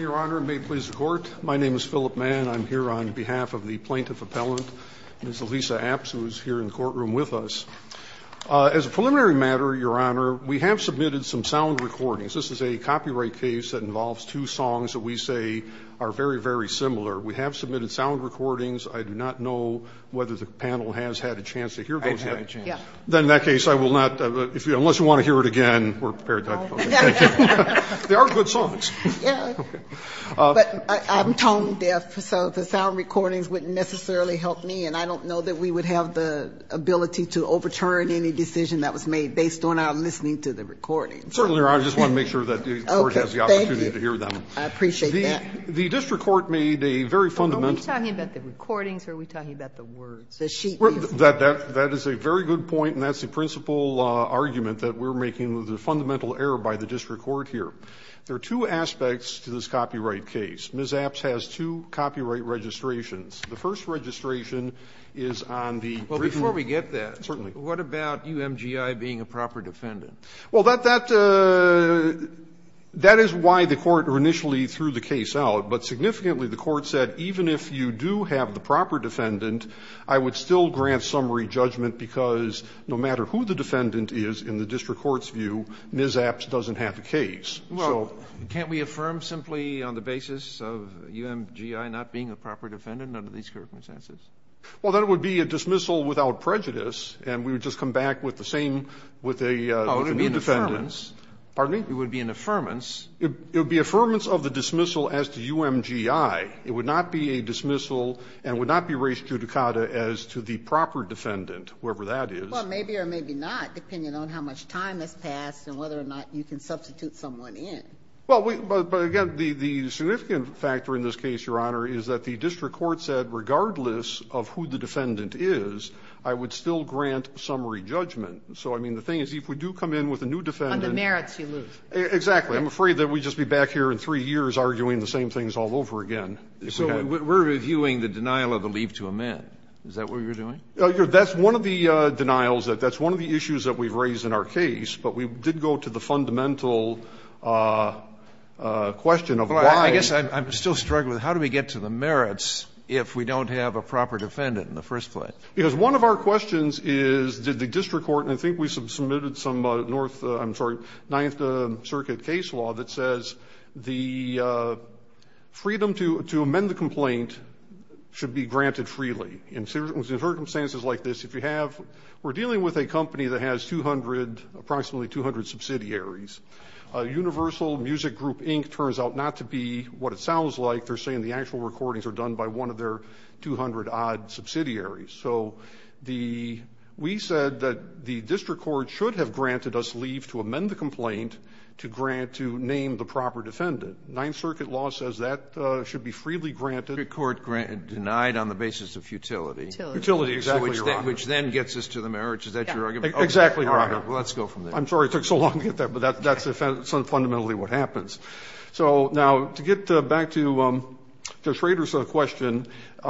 Your Honor, may it please the Court, my name is Philip Mann. I'm here on behalf of the plaintiff appellant, Ms. Alisa Apps, who is here in the courtroom with us. As a preliminary matter, Your Honor, we have submitted some sound recordings. This is a copyright case that involves two songs that we say are very, very similar. We have submitted sound recordings. I do not know whether the panel has had a chance to hear those yet. I've had a chance. Then in that case I will not, unless you want to hear it again, we're prepared to talk about it. They are good songs. Yes. But I'm tone deaf, so the sound recordings wouldn't necessarily help me. And I don't know that we would have the ability to overturn any decision that was made based on our listening to the recordings. Certainly, Your Honor. I just want to make sure that the Court has the opportunity to hear them. Okay. Thank you. I appreciate that. The district court made a very fundamental Are we talking about the recordings or are we talking about the words? The sheet music. That is a very good point, and that's the principal argument that we're making with the fundamental error by the district court here. There are two aspects to this copyright case. Ms. Apps has two copyright registrations. The first registration is on the Well, before we get that, what about UMGI being a proper defendant? Well, that is why the Court initially threw the case out. But significantly, the Court said even if you do have the proper defendant, I would still grant summary judgment because no matter who the defendant is in the district court's view, Ms. Apps doesn't have the case. Well, can't we affirm simply on the basis of UMGI not being a proper defendant under these circumstances? Well, that would be a dismissal without prejudice, and we would just come back with the same with a new defendant. Oh, it would be an affirmance. Pardon me? It would be an affirmance. It would be affirmance of the dismissal as to UMGI. It would not be a dismissal and would not be res judicata as to the proper defendant, whoever that is. Well, maybe or maybe not, depending on how much time has passed and whether or not you can substitute someone in. Well, but again, the significant factor in this case, Your Honor, is that the district court said regardless of who the defendant is, I would still grant summary judgment. So, I mean, the thing is if we do come in with a new defendant On the merits you lose. Exactly. I'm afraid that we'd just be back here in three years arguing the same things all over again. We're reviewing the denial of the leave to amend. Is that what you're doing? That's one of the denials. That's one of the issues that we've raised in our case. But we did go to the fundamental question of why. I guess I'm still struggling. How do we get to the merits if we don't have a proper defendant in the first place? Because one of our questions is did the district court, and I think we submitted some ninth circuit case law that says the freedom to amend the complaint should be granted freely. In circumstances like this, if you have, we're dealing with a company that has approximately 200 subsidiaries. Universal Music Group Inc. turns out not to be what it sounds like. They're saying the actual recordings are done by one of their 200-odd subsidiaries. So we said that the district court should have granted us leave to amend the complaint to grant to name the proper defendant. Ninth circuit law says that should be freely granted. The district court denied on the basis of futility. Futility. Exactly, Your Honor. Which then gets us to the merits. Is that your argument? Exactly, Your Honor. Let's go from there. I'm sorry it took so long to get there, but that's fundamentally what happens. Now, to get back to Judge Rader's question, there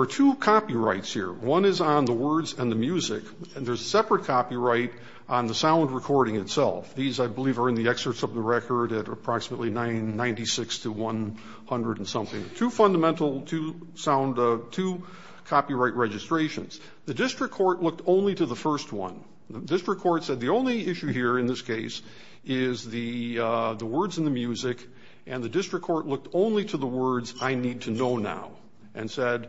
are two copyrights here. One is on the words and the music, and there's a separate copyright on the sound recording itself. These, I believe, are in the excerpts of the record at approximately 996 to 100 and something. Two copyright registrations. The district court looked only to the first one. The district court said the only issue here in this case is the words and the music, and the district court looked only to the words, I need to know now, and said,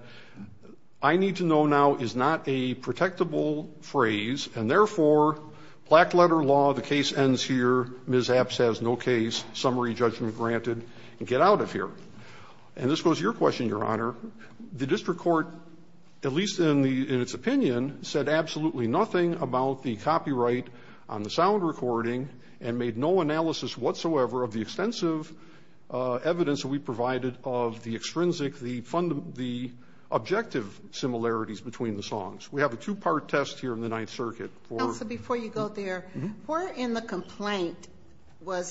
I need to know now is not a protectable phrase, and, therefore, black letter law, the case ends here. Ms. Epps has no case. Summary judgment granted. Get out of here. And this goes to your question, Your Honor. The district court, at least in its opinion, said absolutely nothing about the copyright on the sound recording and made no analysis whatsoever of the extensive evidence that we provided of the extrinsic, the objective similarities between the songs. We have a two-part test here in the Ninth Circuit. So before you go there, where in the complaint were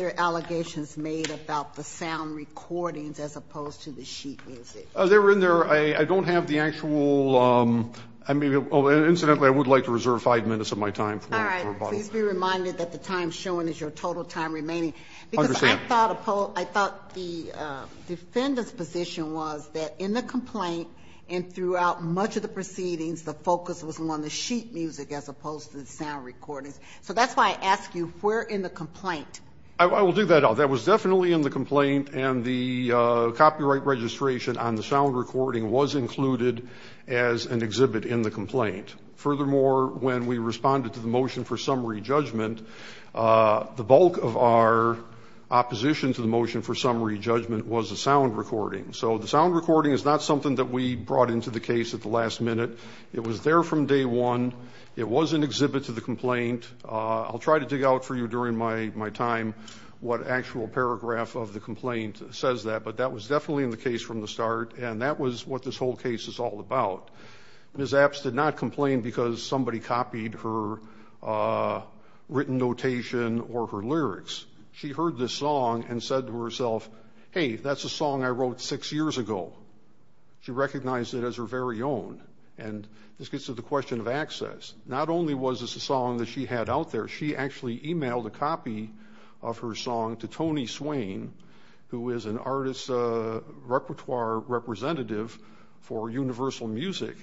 there allegations made about the sound recordings as opposed to the sheet music? They were in there. I don't have the actual. Incidentally, I would like to reserve five minutes of my time. All right. Please be reminded that the time shown is your total time remaining. Because I thought the defendant's position was that in the complaint and throughout much of the proceedings, the focus was on the sheet music as opposed to the sound recordings. So that's why I ask you, where in the complaint? I will dig that out. That was definitely in the complaint, and the copyright registration on the sound recording was included as an exhibit in the complaint. Furthermore, when we responded to the motion for summary judgment, the bulk of our opposition to the motion for summary judgment was the sound recording. So the sound recording is not something that we brought into the case at the last minute. It was there from day one. It was an exhibit to the complaint. I'll try to dig out for you during my time what actual paragraph of the complaint says that. But that was definitely in the case from the start, and that was what this whole case is all about. Ms. Epps did not complain because somebody copied her written notation or her lyrics. She heard this song and said to herself, hey, that's a song I wrote six years ago. She recognized it as her very own. And this gets to the question of access. Not only was this a song that she had out there. She actually emailed a copy of her song to Tony Swain, who is an artist repertoire representative for Universal Music.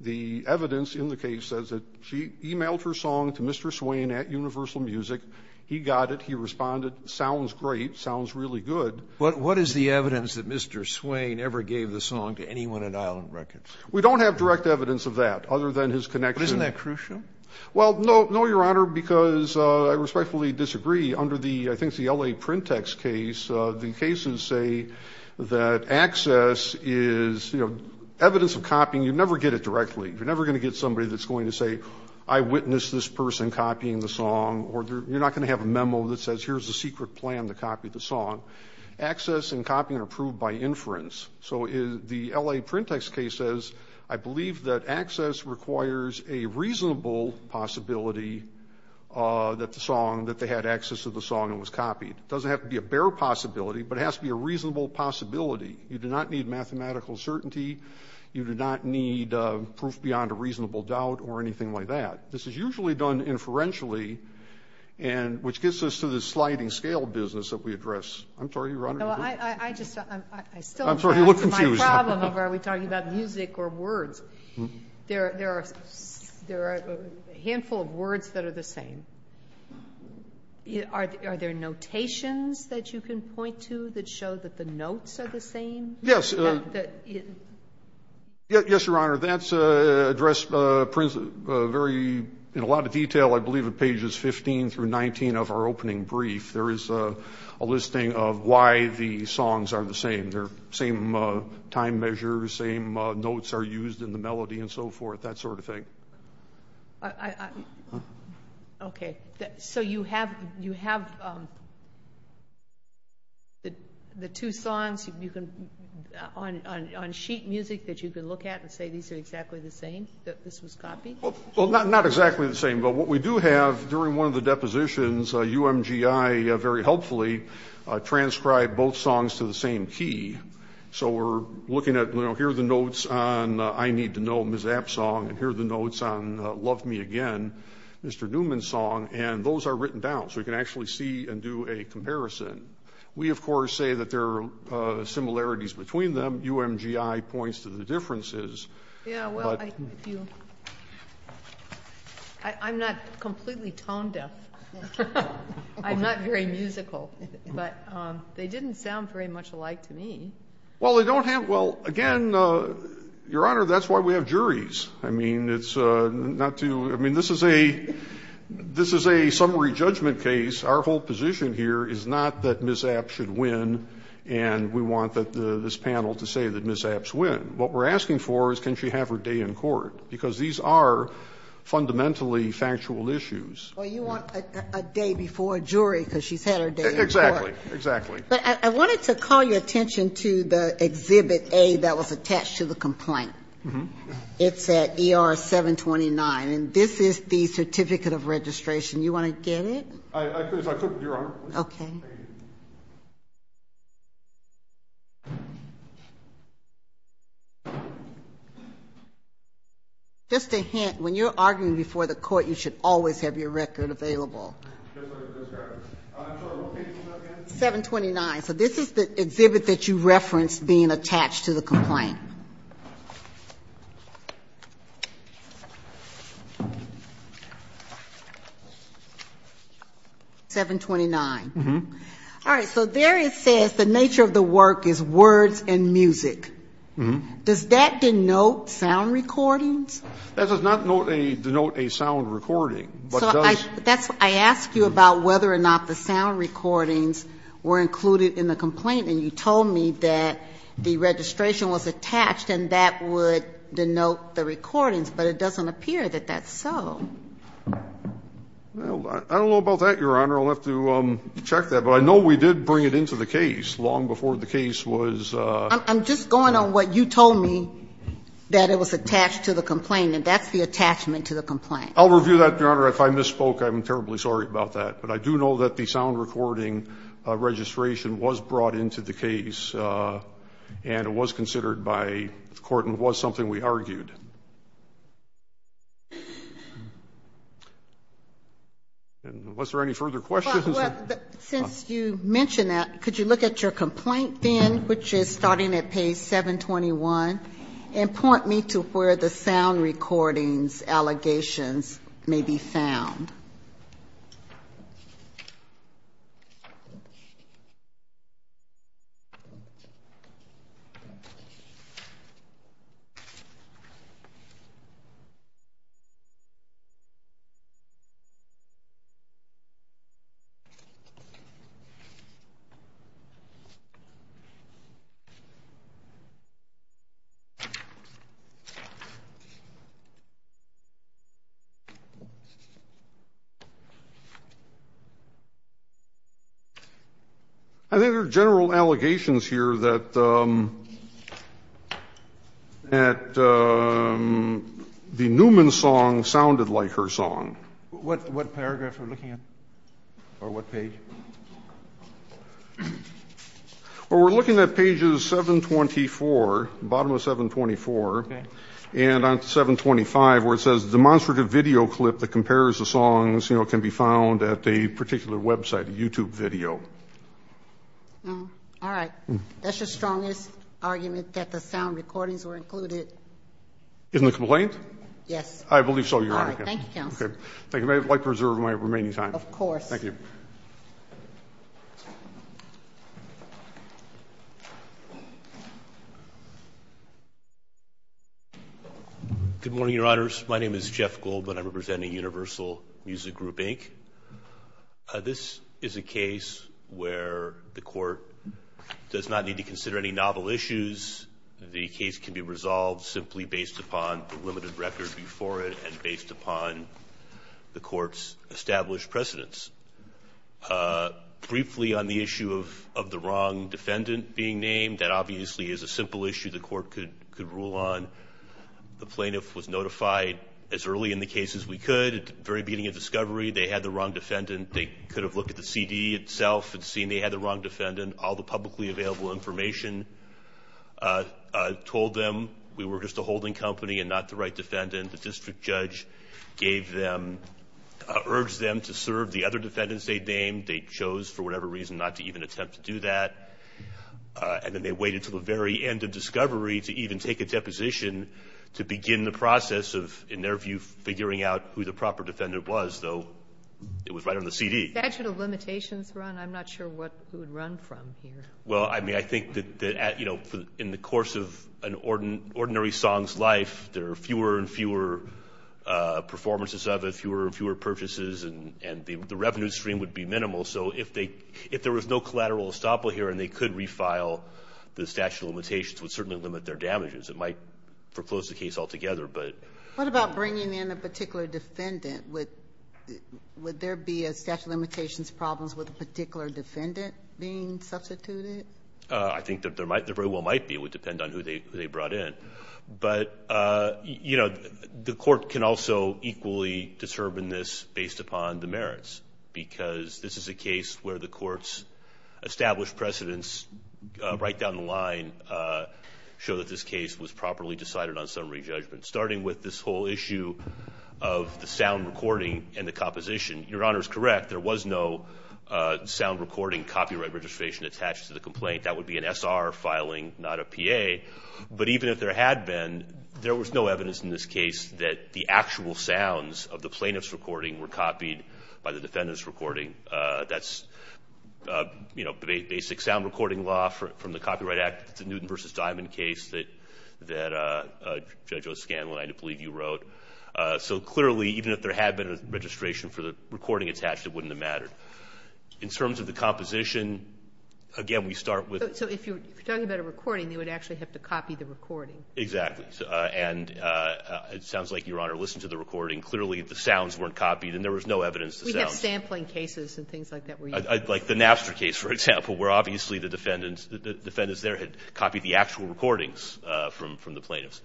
The evidence in the case says that she emailed her song to Mr. Swain at Universal Music. He got it. He responded, sounds great, sounds really good. What is the evidence that Mr. Swain ever gave the song to anyone at Island Records? We don't have direct evidence of that other than his connection. But isn't that crucial? Well, no, Your Honor, because I respectfully disagree. Under the, I think it's the L.A. Print Text case, the cases say that access is evidence of copying. You never get it directly. You're never going to get somebody that's going to say, I witnessed this person copying the song, or you're not going to have a memo that says here's the secret plan to copy the song. Access and copying are proved by inference. So the L.A. Print Text case says I believe that access requires a reasonable possibility that the song, that they had access to the song and was copied. It doesn't have to be a bare possibility, but it has to be a reasonable possibility. You do not need mathematical certainty. You do not need proof beyond a reasonable doubt or anything like that. This is usually done inferentially, which gets us to the sliding scale business that we address. I'm sorry, Your Honor. I'm sorry, you look confused. My problem, are we talking about music or words? There are a handful of words that are the same. Are there notations that you can point to that show that the notes are the same? Yes. Yes, Your Honor. That's addressed in a lot of detail, I believe, at pages 15 through 19 of our opening brief. There is a listing of why the songs are the same. They're the same time measure, the same notes are used in the melody and so forth, that sort of thing. Okay. So you have the two songs on sheet music that you can look at and say these are exactly the same, that this was copied? Well, not exactly the same. But what we do have during one of the depositions, UMGI very helpfully transcribed both songs to the same key. So we're looking at, you know, here are the notes on I Need to Know, Ms. Appsong, and here are the notes on Love Me Again, Mr. Newman's song, and those are written down. So you can actually see and do a comparison. We, of course, say that there are similarities between them. UMGI points to the differences. Yeah, well, I'm not completely tone deaf. I'm not very musical. But they didn't sound very much alike to me. Well, again, Your Honor, that's why we have juries. I mean, it's not to ‑‑ I mean, this is a summary judgment case. Our whole position here is not that Ms. Apps should win, and we want this panel to say that Ms. Apps win. What we're asking for is can she have her day in court, because these are fundamentally factual issues. Well, you want a day before a jury because she's had her day in court. Exactly, exactly. But I wanted to call your attention to the Exhibit A that was attached to the complaint. It's at ER 729, and this is the certificate of registration. You want to get it? I could, Your Honor. Okay. Just a hint. When you're arguing before the court, you should always have your record available. I'm sorry, what page is that again? 729. So this is the exhibit that you referenced being attached to the complaint. 729. All right. So there it says the nature of the work is words and music. Does that denote sound recordings? That does not denote a sound recording. So I ask you about whether or not the sound recordings were included in the complaint, and you told me that the registration was attached and that would denote the recordings, but it doesn't appear that that's so. I don't know about that, Your Honor. I'll have to check that. But I know we did bring it into the case long before the case was ---- I'm just going on what you told me, that it was attached to the complaint, and that's the attachment to the complaint. I'll review that, Your Honor. If I misspoke, I'm terribly sorry about that. But I do know that the sound recording registration was brought into the case, and it was considered by the court and was something we argued. And was there any further questions? Well, since you mentioned that, could you look at your complaint then, which is starting at page 721, and point me to where the sound recordings allegations may be found? Thank you, Your Honor. I think there are general allegations here that the Newman song sounded like her song. What paragraph are we looking at? Or what page? Well, we're looking at pages 724, bottom of 724. Okay. And on 725, where it says, demonstrative video clip that compares the songs can be found at a particular website, a YouTube video. All right. That's your strongest argument, that the sound recordings were included. In the complaint? Yes. I believe so, Your Honor. All right. Thank you, counsel. Thank you. May I preserve my remaining time? Of course. Thank you. Good morning, Your Honors. My name is Jeff Goldblatt. I'm representing Universal Music Group, Inc. This is a case where the court does not need to consider any novel issues. The case can be resolved simply based upon the limited record before it and based upon the court's established precedence. Briefly on the issue of the wrong defendant being named, that obviously is a simple issue the court could rule on. The plaintiff was notified as early in the case as we could. At the very beginning of discovery, they had the wrong defendant. They could have looked at the CD itself and seen they had the wrong defendant. All the publicly available information told them we were just a holding company and not the right defendant. The district judge gave them... urged them to serve the other defendants they named. They chose for whatever reason not to even attempt to do that. Then they waited until the very end of discovery to even take a deposition to begin the process of, in their view, figuring out who the proper defendant was, though it was right on the CD. Statute of limitations, Ron? I'm not sure what we would run from here. Well, I mean, I think that in the course of an ordinary song's life, there are fewer and fewer performances of it, fewer and fewer purchases, and the revenue stream would be minimal. So if there was no collateral estoppel here and they could refile, the statute of limitations would certainly limit their damages. It might foreclose the case altogether, but... What about bringing in a particular defendant? Would there be a statute of limitations problem with a particular defendant being substituted? I think there very well might be. It would depend on who they brought in. But, you know, the court can also equally discern this based upon the merits, because this is a case where the court's established precedents right down the line show that this case was properly decided on summary judgment, starting with this whole issue of the sound recording and the composition. Your Honor is correct. There was no sound recording copyright registration attached to the complaint. That would be an SR filing, not a PA. But even if there had been, there was no evidence in this case that the actual sounds of the plaintiff's recording were copied by the defendant's recording. That's, you know, basic sound recording law from the Copyright Act. It's a Newton v. Diamond case that Judge O'Scanlan, I believe, you wrote. So clearly, even if there had been a registration for the recording attached, it wouldn't have mattered. Exactly. And it sounds like, Your Honor, listen to the recording. Clearly, the sounds weren't copied, and there was no evidence of sounds. We have sampling cases and things like that where you can see. Like the Napster case, for example, where obviously the defendants, the defendants there had copied the actual recordings from the plaintiffs.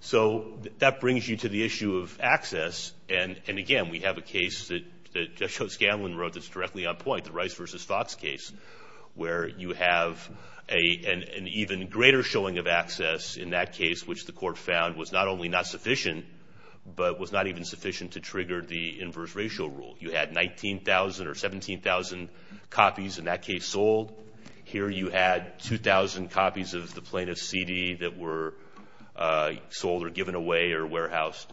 So that brings you to the issue of access. And again, we have a case that Judge O'Scanlan wrote that's directly on point, the Rice v. Fox case, where you have an even greater showing of access in that case, which the court found was not only not sufficient, but was not even sufficient to trigger the inverse ratio rule. You had 19,000 or 17,000 copies in that case sold. Here you had 2,000 copies of the plaintiff's CD that were sold or given away or warehoused.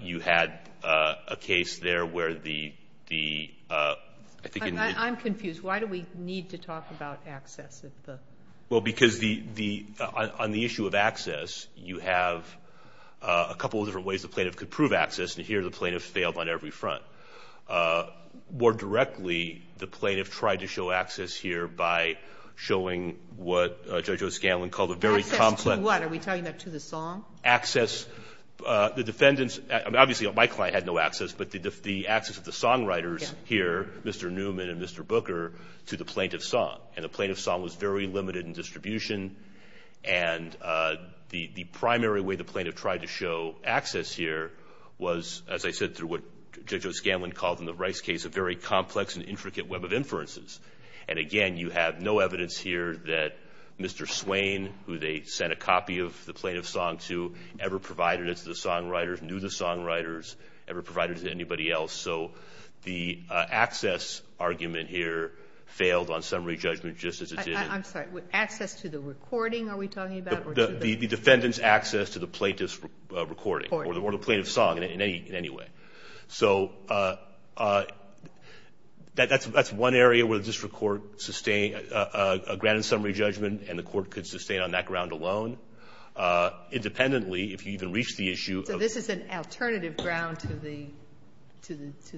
You had a case there where the, I think in the. I'm confused. Why do we need to talk about access? Well, because on the issue of access, you have a couple of different ways the plaintiff could prove access, and here the plaintiff failed on every front. More directly, the plaintiff tried to show access here by showing what Judge O'Scanlan called a very complex. Access to what? Are we talking about to the song? Access. The defendants, obviously my client had no access, but the access of the songwriters here, Mr. Newman and Mr. Booker, to the plaintiff's song. And the plaintiff's song was very limited in distribution, and the primary way the plaintiff tried to show access here was, as I said, through what Judge O'Scanlan called in the Rice case a very complex and intricate web of inferences. And, again, you have no evidence here that Mr. Swain, who they sent a copy of the plaintiff's song to, ever provided it to the songwriters, knew the songwriters, ever provided it to anybody else. So the access argument here failed on summary judgment just as it did in. I'm sorry. Access to the recording, are we talking about? The defendant's access to the plaintiff's recording or the plaintiff's song in any way. So that's one area where the district court sustained a grand summary judgment and the court could sustain on that ground alone. Independently, if you even reach the issue of. So this is an alternative ground to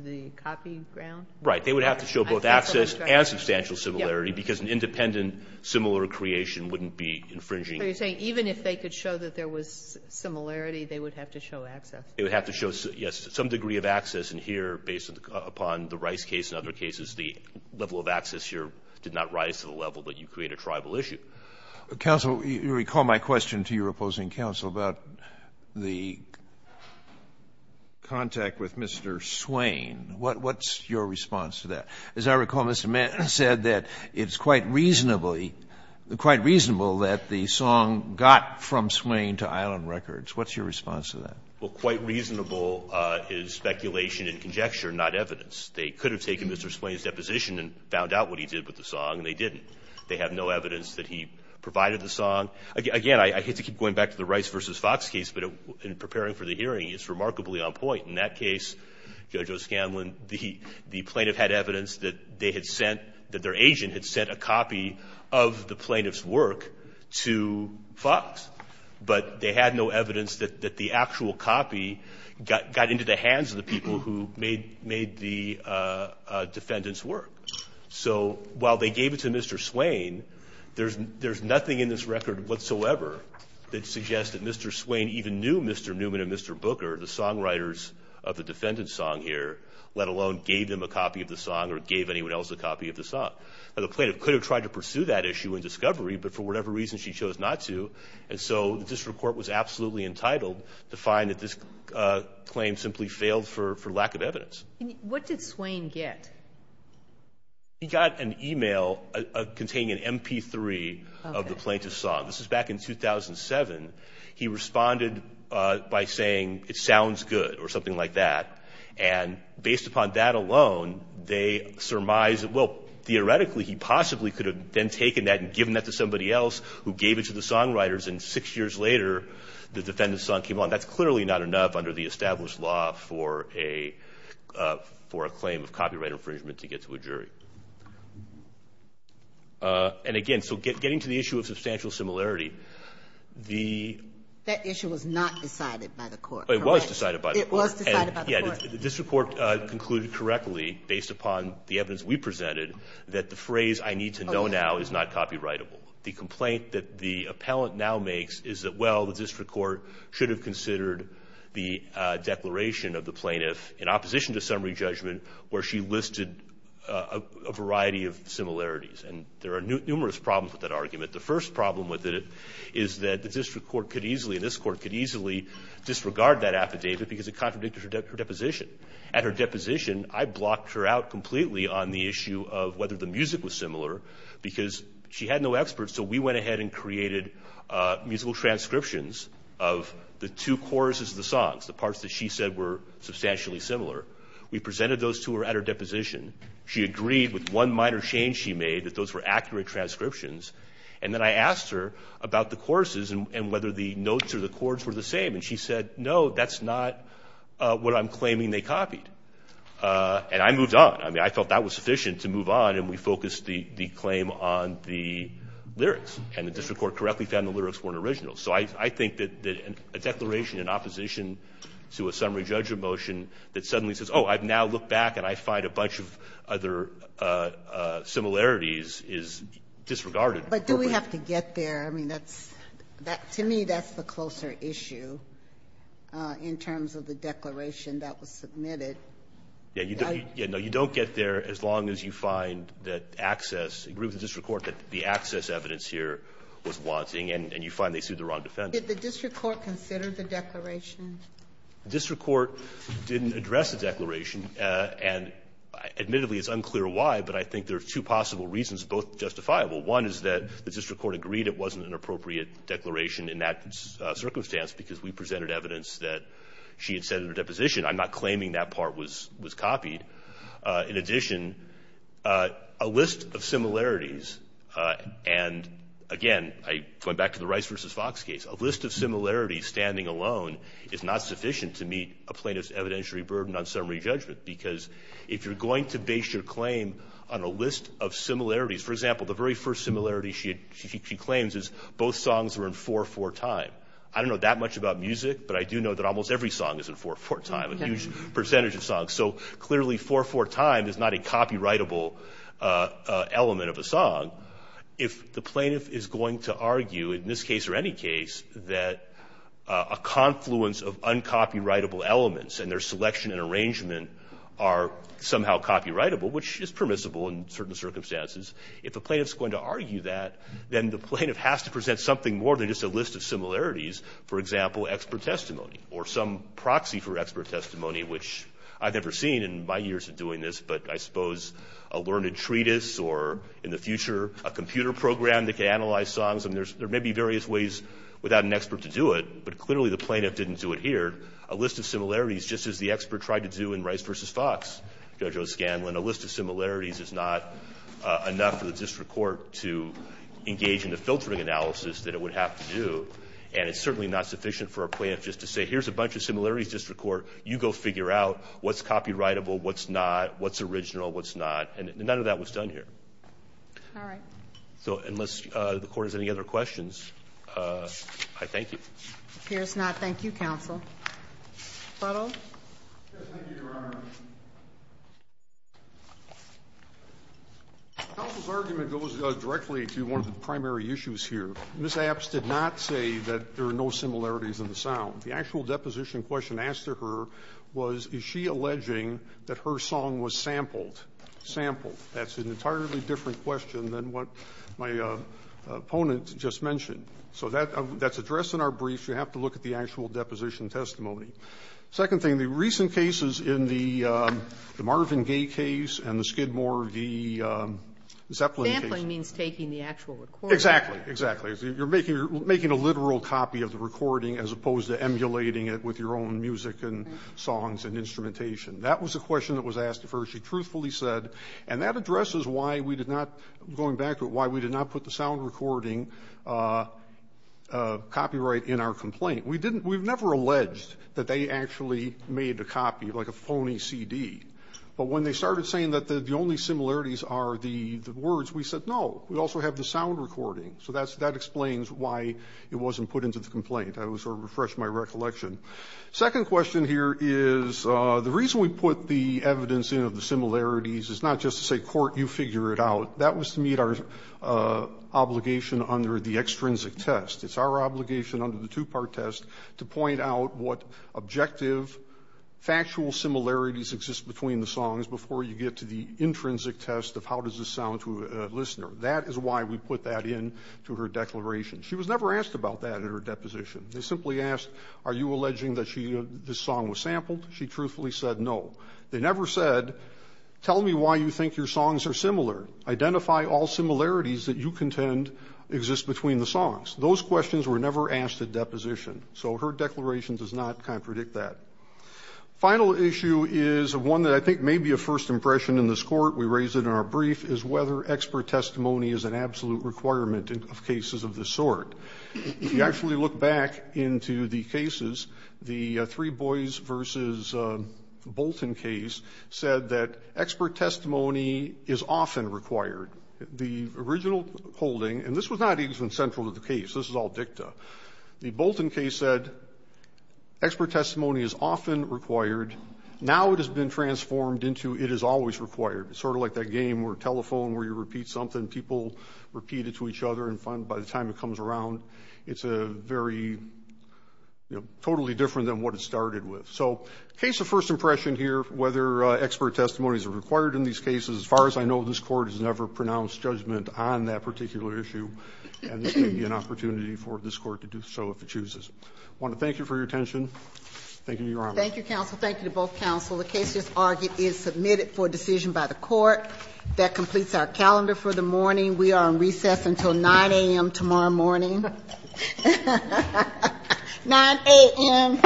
the copy ground? Right. They would have to show both access and substantial similarity, because an independent similar creation wouldn't be infringing. So you're saying even if they could show that there was similarity, they would have to show access. They would have to show, yes, some degree of access. And here, based upon the Rice case and other cases, the level of access here did not rise to the level that you create a tribal issue. Counsel, you recall my question to your opposing counsel about the contact with Mr. Swain. What's your response to that? As I recall, Mr. Mann said that it's quite reasonably, quite reasonable that the song got from Swain to Island Records. What's your response to that? Well, quite reasonable is speculation and conjecture, not evidence. They could have taken Mr. Swain's deposition and found out what he did with the song, and they didn't. They have no evidence that he provided the song. Again, I hate to keep going back to the Rice v. Fox case, but in preparing for the hearing, it's remarkably on point. In that case, Judge O'Scanlan, the plaintiff had evidence that they had sent, that their agent had sent a copy of the plaintiff's work to Fox. But they had no evidence that the actual copy got into the hands of the people who made the defendant's work. So while they gave it to Mr. Swain, there's nothing in this record whatsoever that suggests that Mr. Swain even knew Mr. Newman and Mr. Booker, the songwriters of the defendant's song here, let alone gave them a copy of the song or gave anyone else a copy of the song. Now, the plaintiff could have tried to pursue that issue in discovery, but for whatever reason she chose not to. And so the district court was absolutely entitled to find that this claim simply failed for lack of evidence. What did Swain get? He got an e-mail containing an MP3 of the plaintiff's song. This is back in 2007. He responded by saying, it sounds good, or something like that. And based upon that alone, they surmise that, well, theoretically, he possibly could have then taken that and given that to somebody else who gave it to the songwriters. And six years later, the defendant's song came on. That's clearly not enough under the established law for a claim of copyright infringement to get to a jury. And, again, so getting to the issue of substantial similarity, the ---- That issue was not decided by the court, correct? It was decided by the court. It was decided by the court. Yeah. The district court concluded correctly, based upon the evidence we presented, that the phrase, I need to know now, is not copyrightable. The complaint that the appellant now makes is that, well, the district court should have considered the declaration of the plaintiff in opposition to summary judgment where she listed a variety of similarities. And there are numerous problems with that argument. The first problem with it is that the district court could easily, and this Court could easily disregard that affidavit because it contradicted her deposition. At her deposition, I blocked her out completely on the issue of whether the music was similar because she had no experts. So we went ahead and created musical transcriptions of the two choruses of the songs, the parts that she said were substantially similar. We presented those to her at her deposition. She agreed with one minor change she made, that those were accurate transcriptions. And then I asked her about the choruses and whether the notes or the chords were the same, and she said, no, that's not what I'm claiming they copied. And I moved on. I mean, I felt that was sufficient to move on, and we focused the claim on the lyrics. And the district court correctly found the lyrics weren't original. So I think that a declaration in opposition to a summary judgment motion that suddenly says, oh, I've now looked back and I find a bunch of other similarities is disregarded But do we have to get there? I mean, that's to me that's the closer issue in terms of the declaration that was submitted. Yeah. No, you don't get there as long as you find that access, agree with the district court that the access evidence here was wanting, and you find they sued the wrong defendant. Did the district court consider the declaration? The district court didn't address the declaration. And admittedly, it's unclear why, but I think there are two possible reasons, both justifiable. One is that the district court agreed it wasn't an appropriate declaration in that circumstance because we presented evidence that she had said in her deposition, I'm not claiming that part was copied. In addition, a list of similarities, and again, going back to the Rice v. Fox case, a list of similarities standing alone is not sufficient to meet a plaintiff's evidentiary burden on summary judgment, because if you're going to base your claim on a list of similarities, for example, the very first similarity she claims is both songs were in 4-4 time. I don't know that much about music, but I do know that almost every song is in 4-4 time, a huge percentage of songs. So clearly, 4-4 time is not a copyrightable element of a song. If the plaintiff is going to argue, in this case or any case, that a confluence of uncopyrightable elements and their selection and arrangement are somehow copyrightable, which is permissible in certain circumstances, if a plaintiff is going to argue that, then the plaintiff has to present something more than just a list of similarities, for example, expert testimony or some proxy for expert testimony, which I've never seen in my years of doing this, but I suppose a learned treatise or in the future a computer program that can analyze songs. I mean, there may be various ways without an expert to do it, but clearly the plaintiff didn't do it here, a list of similarities just as the expert tried to do in Rice v. Fox, Judge O'Scanlan, a list of similarities is not enough for the district court to engage in the filtering analysis that it would have to do, and it's certainly not sufficient for a plaintiff just to say, here's a bunch of similarities, district court, you go figure out what's copyrightable, what's not, what's original, what's not, and none of that was done here. All right. So unless the Court has any other questions, I thank you. Appears not. Thank you, counsel. Brutal? Yes, thank you, Your Honor. Counsel's argument goes directly to one of the primary issues here. Ms. Apps did not say that there are no similarities in the sound. The actual deposition question asked to her was, is she alleging that her song was sampled? Sampled. That's an entirely different question than what my opponent just mentioned. So that's addressed in our brief. You have to look at the actual deposition testimony. Second thing, the recent cases in the Marvin Gaye case and the Skidmore, the Zeppelin case. Sampling means taking the actual recording. Exactly. Exactly. You're making a literal copy of the recording as opposed to emulating it with your own music and songs and instrumentation. That was the question that was asked of her. She truthfully said, and that addresses why we did not, going back to it, why we did not put the sound recording copyright in our complaint. We've never alleged that they actually made a copy, like a phony CD. But when they started saying that the only similarities are the words, we said no. We also have the sound recording. So that explains why it wasn't put into the complaint. That was sort of to refresh my recollection. Second question here is, the reason we put the evidence in of the similarities is not just to say, court, you figure it out. That was to meet our obligation under the extrinsic test. It's our obligation under the two-part test to point out what objective, factual similarities exist between the songs before you get to the intrinsic test of how does this sound to a listener. That is why we put that into her declaration. She was never asked about that in her deposition. They simply asked, are you alleging that this song was sampled? She truthfully said no. They never said, tell me why you think your songs are similar. Identify all similarities that you contend exist between the songs. Those questions were never asked at deposition. So her declaration does not contradict that. Final issue is one that I think may be a first impression in this court. We raise it in our brief, is whether expert testimony is an absolute requirement of cases of this sort. If you actually look back into the cases, the Three Boys v. Bolton case said that expert testimony is often required. The original holding, and this was not even central to the case. This was all dicta. The Bolton case said expert testimony is often required. Now it has been transformed into it is always required. It's sort of like that game or telephone where you repeat something, people repeat it to each other, and by the time it comes around, it's a very totally different than what it started with. So case of first impression here, whether expert testimony is required in these on that particular issue, and this may be an opportunity for this court to do so if it chooses. I want to thank you for your attention. Thank you, Your Honor. Thank you, counsel. Thank you to both counsel. The case as argued is submitted for decision by the court. That completes our calendar for the morning. We are on recess until 9 a.m. tomorrow morning. 9 a.m. All rise.